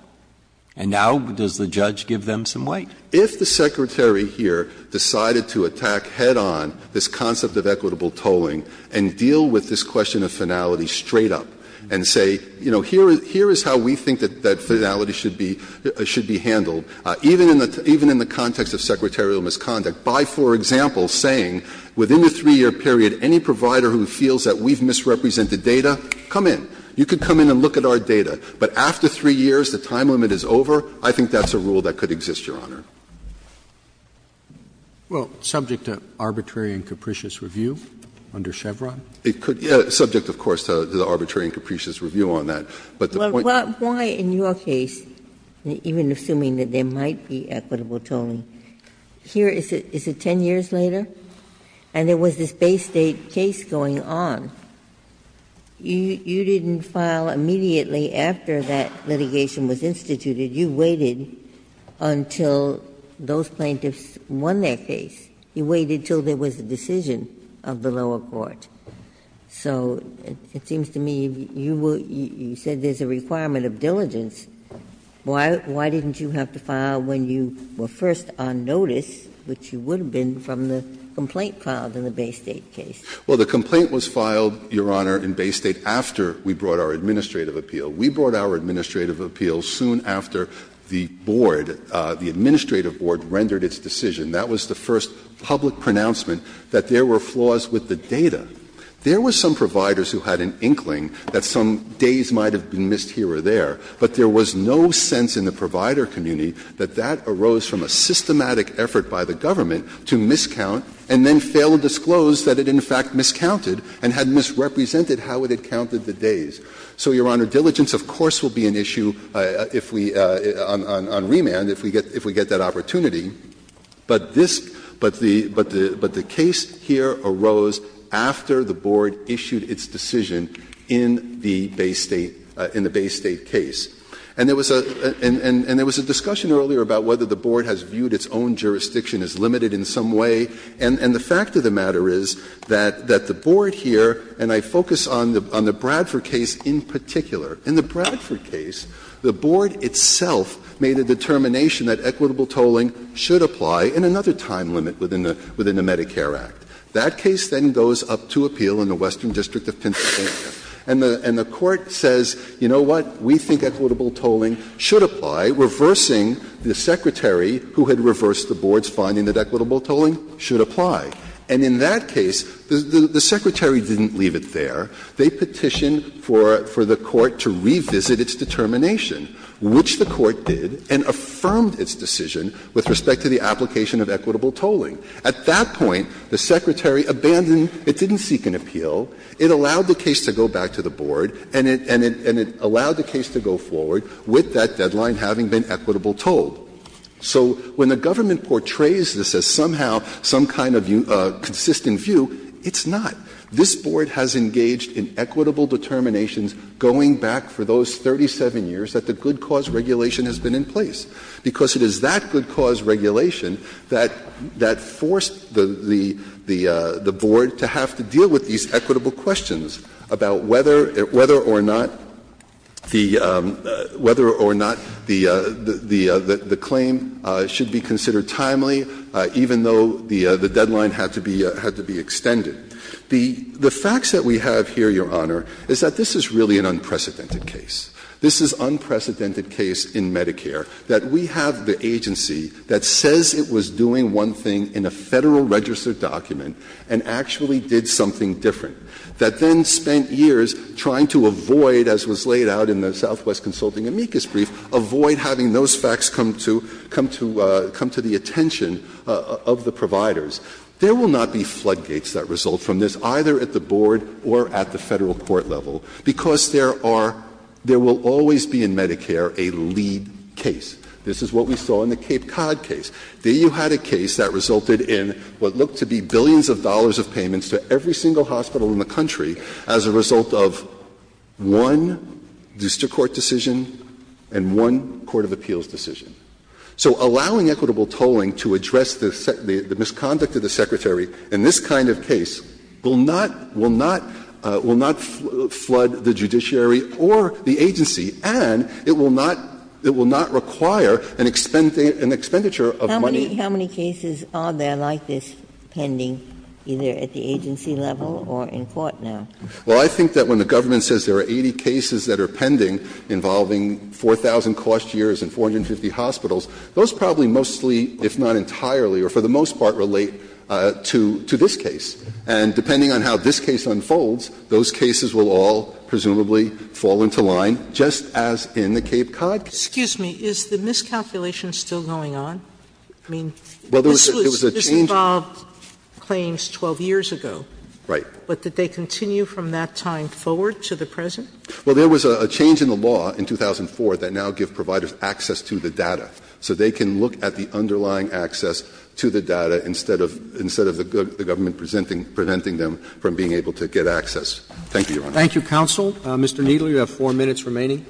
And now does the judge give them some weight? If the Secretary here decided to attack head-on this concept of equitable tolling and deal with this question of finality straight up and say, you know, here is how we think that finality should be handled, even in the context of secretarial misconduct, by, for example, saying, within a 3-year period, any provider who feels that we've misrepresented data, come in. You can come in and look at our data, but after 3 years, the time limit is over? I think that's a rule that could exist, Your Honor. Well, subject to arbitrary and capricious review under Chevron? It could, subject, of course, to the arbitrary and capricious review on that. But the point is why, in your case, even assuming that there might be equitable tolling, here is it 10 years later, and there was this Bay State case going on. You didn't file immediately after that litigation was instituted. You waited until those plaintiffs won their case. You waited until there was a decision of the lower court. So it seems to me you said there's a requirement of diligence. Why didn't you have to file when you were first on notice, which you would have been from the complaint filed in the Bay State case? Well, the complaint was filed, Your Honor, in Bay State after we brought our administrative appeal. We brought our administrative appeal soon after the board, the administrative board, rendered its decision. That was the first public pronouncement that there were flaws with the data. There were some providers who had an inkling that some days might have been missed here or there, but there was no sense in the provider community that that arose from a systematic effort by the government to miscount and then fail to disclose that it in fact miscounted and had misrepresented how it had counted the days. So, Your Honor, diligence, of course, will be an issue if we — on remand, if we get that opportunity. But this — but the case here arose after the board issued its decision in the Bay State case. And there was a — and there was a discussion earlier about whether the board has viewed its own jurisdiction as limited in some way. And the fact of the matter is that the board here — and I focus on the Bradford case in particular. In the Bradford case, the board itself made a determination that equitable tolling should apply in another time limit within the Medicare Act. That case then goes up to appeal in the Western District of Pennsylvania. And the court says, you know what, we think equitable tolling should apply, reversing the secretary who had reversed the board's finding that equitable tolling should apply. And in that case, the secretary didn't leave it there. They petitioned for the court to revisit its determination, which the court did, and affirmed its decision with respect to the application of equitable tolling. At that point, the secretary abandoned — it didn't seek an appeal. It allowed the case to go back to the board, and it — and it allowed the case to go forward with that deadline having been equitable tolled. So when the government portrays this as somehow some kind of consistent view, it's not. This board has engaged in equitable determinations going back for those 37 years that the good cause regulation has been in place, because it is that good cause regulation that — that forced the — the board to have to deal with these equitable questions about whether — whether or not the — whether or not the claim should be considered timely, even though the deadline had to be — had to be extended. The facts that we have here, Your Honor, is that this is really an unprecedented case. This is unprecedented case in Medicare, that we have the agency that says it was doing one thing in a Federal-registered document and actually did something different, that then spent years trying to avoid, as was laid out in the Southwest Consulting amicus brief, avoid having those facts come to — come to — come to the attention of the providers. There will not be floodgates that result from this, either at the board or at the Federal court level, because there are — there will always be in Medicare a lead case. This is what we saw in the Cape Cod case. There you had a case that resulted in what looked to be billions of dollars of payments to every single hospital in the country as a result of one district court decision and one court of appeals decision. So allowing equitable tolling to address the misconduct of the Secretary in this kind of case will not — will not — will not flood the judiciary or the agency, and it will not — it will not require an expenditure of money. How many cases are there like this pending, either at the agency level or in court now? Well, I think that when the government says there are 80 cases that are pending involving 4,000 cost years and 450 hospitals, those probably mostly, if not entirely, or for the most part, relate to — to this case. And depending on how this case unfolds, those cases will all presumably fall into line, just as in the Cape Cod case. Sotomayor, is the miscalculation still going on? I mean, this was — this involved claims 12 years ago. Right. But did they continue from that time forward to the present? Well, there was a change in the law in 2004 that now gives providers access to the data instead of — instead of the government preventing them from being able to get access. Thank you, Your Honor. Thank you, counsel. Mr. Kneedler, you have 4 minutes remaining.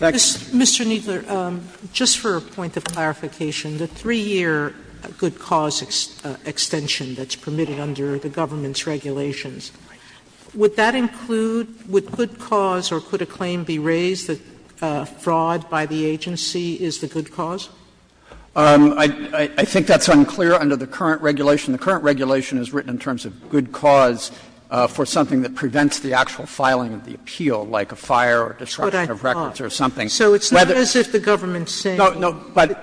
Mr. Kneedler, just for a point of clarification, the 3-year good cause extension that's permitted under the government's regulations, would that include — would good cause or could a claim be raised that fraud by the agency is the good cause? I think that's unclear under the current regulation. The current regulation is written in terms of good cause for something that prevents the actual filing of the appeal, like a fire or disruption of records or something. So it's not as if the government's saying — No, no. But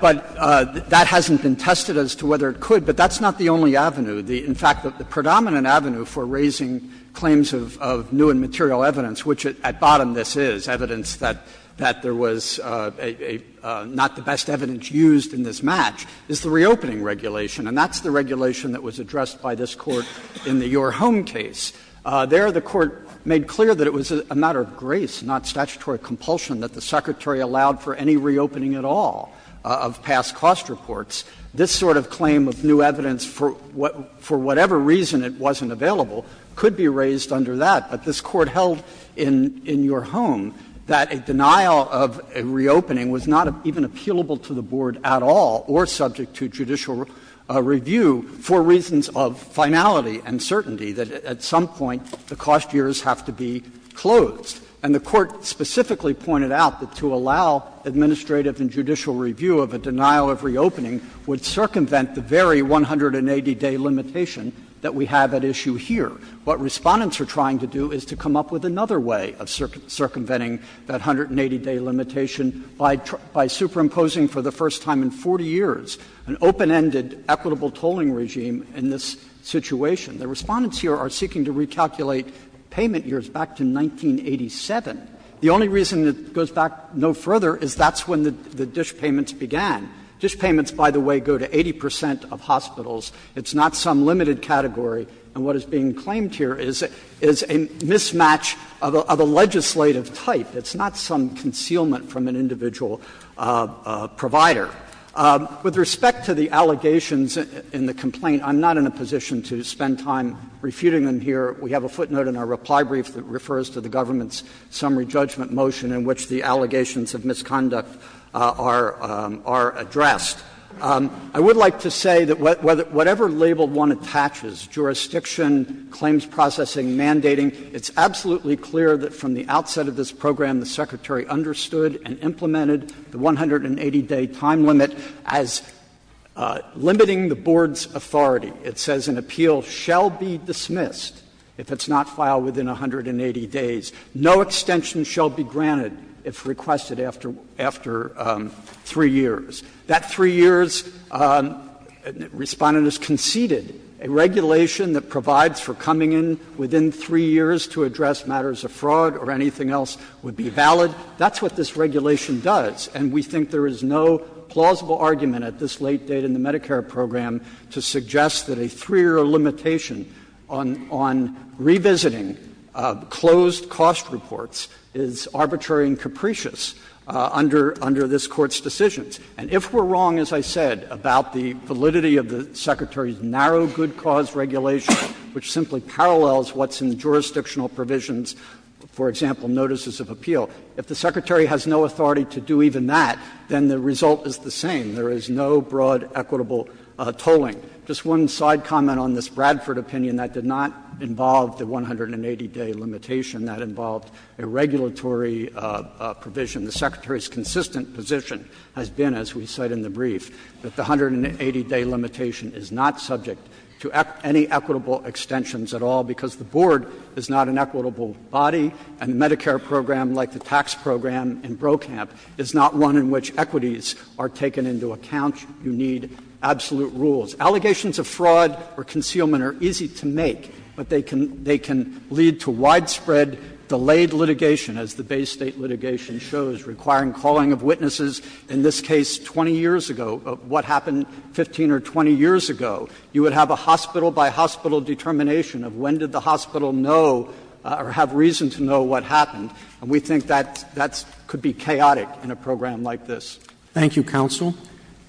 that hasn't been tested as to whether it could, but that's not the only avenue. In fact, the predominant avenue for raising claims of new and material evidence, which at bottom this is, evidence that there was not the best evidence used in this match, is the reopening regulation. And that's the regulation that was addressed by this Court in the Your Home case. There, the Court made clear that it was a matter of grace, not statutory compulsion, that the Secretary allowed for any reopening at all of past cost reports. This sort of claim of new evidence, for whatever reason it wasn't available, could be raised under that. But this Court held in Your Home that a denial of a reopening was not even appealable to the board at all or subject to judicial review for reasons of finality and certainty, that at some point the cost years have to be closed. And the Court specifically pointed out that to allow administrative and judicial review of a denial of reopening would circumvent the very 180-day limitation that we have at issue here. What Respondents are trying to do is to come up with another way of circumventing that 180-day limitation by superimposing for the first time in 40 years an open-ended equitable tolling regime in this situation. The Respondents here are seeking to recalculate payment years back to 1987. The only reason it goes back no further is that's when the dish payments began. Dish payments, by the way, go to 80 percent of hospitals. It's not some limited category. And what is being claimed here is a mismatch of a legislative type. It's not some concealment from an individual provider. With respect to the allegations in the complaint, I'm not in a position to spend time refuting them here. We have a footnote in our reply brief that refers to the government's summary judgment motion in which the allegations of misconduct are addressed. I would like to say that whatever label one attaches, jurisdiction, claims processing, mandating, it's absolutely clear that from the outset of this program the Secretary understood and implemented the 180-day time limit as limiting the Board's authority. It says an appeal shall be dismissed if it's not filed within 180 days. No extension shall be granted if requested after 3 years. That 3 years, Respondent has conceded, a regulation that provides for coming in within 3 years to address matters of fraud or anything else would be valid. That's what this regulation does. And we think there is no plausible argument at this late date in the Medicare program to suggest that a 3-year limitation on revisiting closed cost reports is arbitrary and capricious under this Court's decisions. And if we're wrong, as I said, about the validity of the Secretary's narrow good cause regulation, which simply parallels what's in the jurisdictional provisions, for example, notices of appeal, if the Secretary has no authority to do even that, then the result is the same. There is no broad equitable tolling. Just one side comment on this Bradford opinion that did not involve the 180-day limitation, that involved a regulatory provision. The Secretary's consistent position has been, as we cite in the brief, that the 180-day limitation is not subject to any equitable extensions at all, because the Board is not an equitable body, and the Medicare program, like the tax program in Brokamp, is not one in which equities are taken into account. You need absolute rules. Allegations of fraud or concealment are easy to make, but they can lead to widespread delayed litigation, as the Bay State litigation shows, requiring calling of witnesses in this case 20 years ago, what happened 15 or 20 years ago. You would have a hospital-by-hospital determination of when did the hospital know or have reason to know what happened. And we think that that could be chaotic in a program like this. Roberts. Thank you, counsel.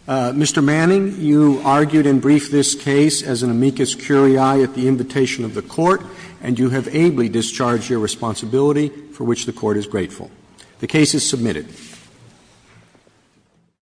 Mr. Manning, you argued in brief this case as an amicus curiae at the invitation of the Court, and you have ably discharged your responsibility, for which the Court is grateful. The case is submitted.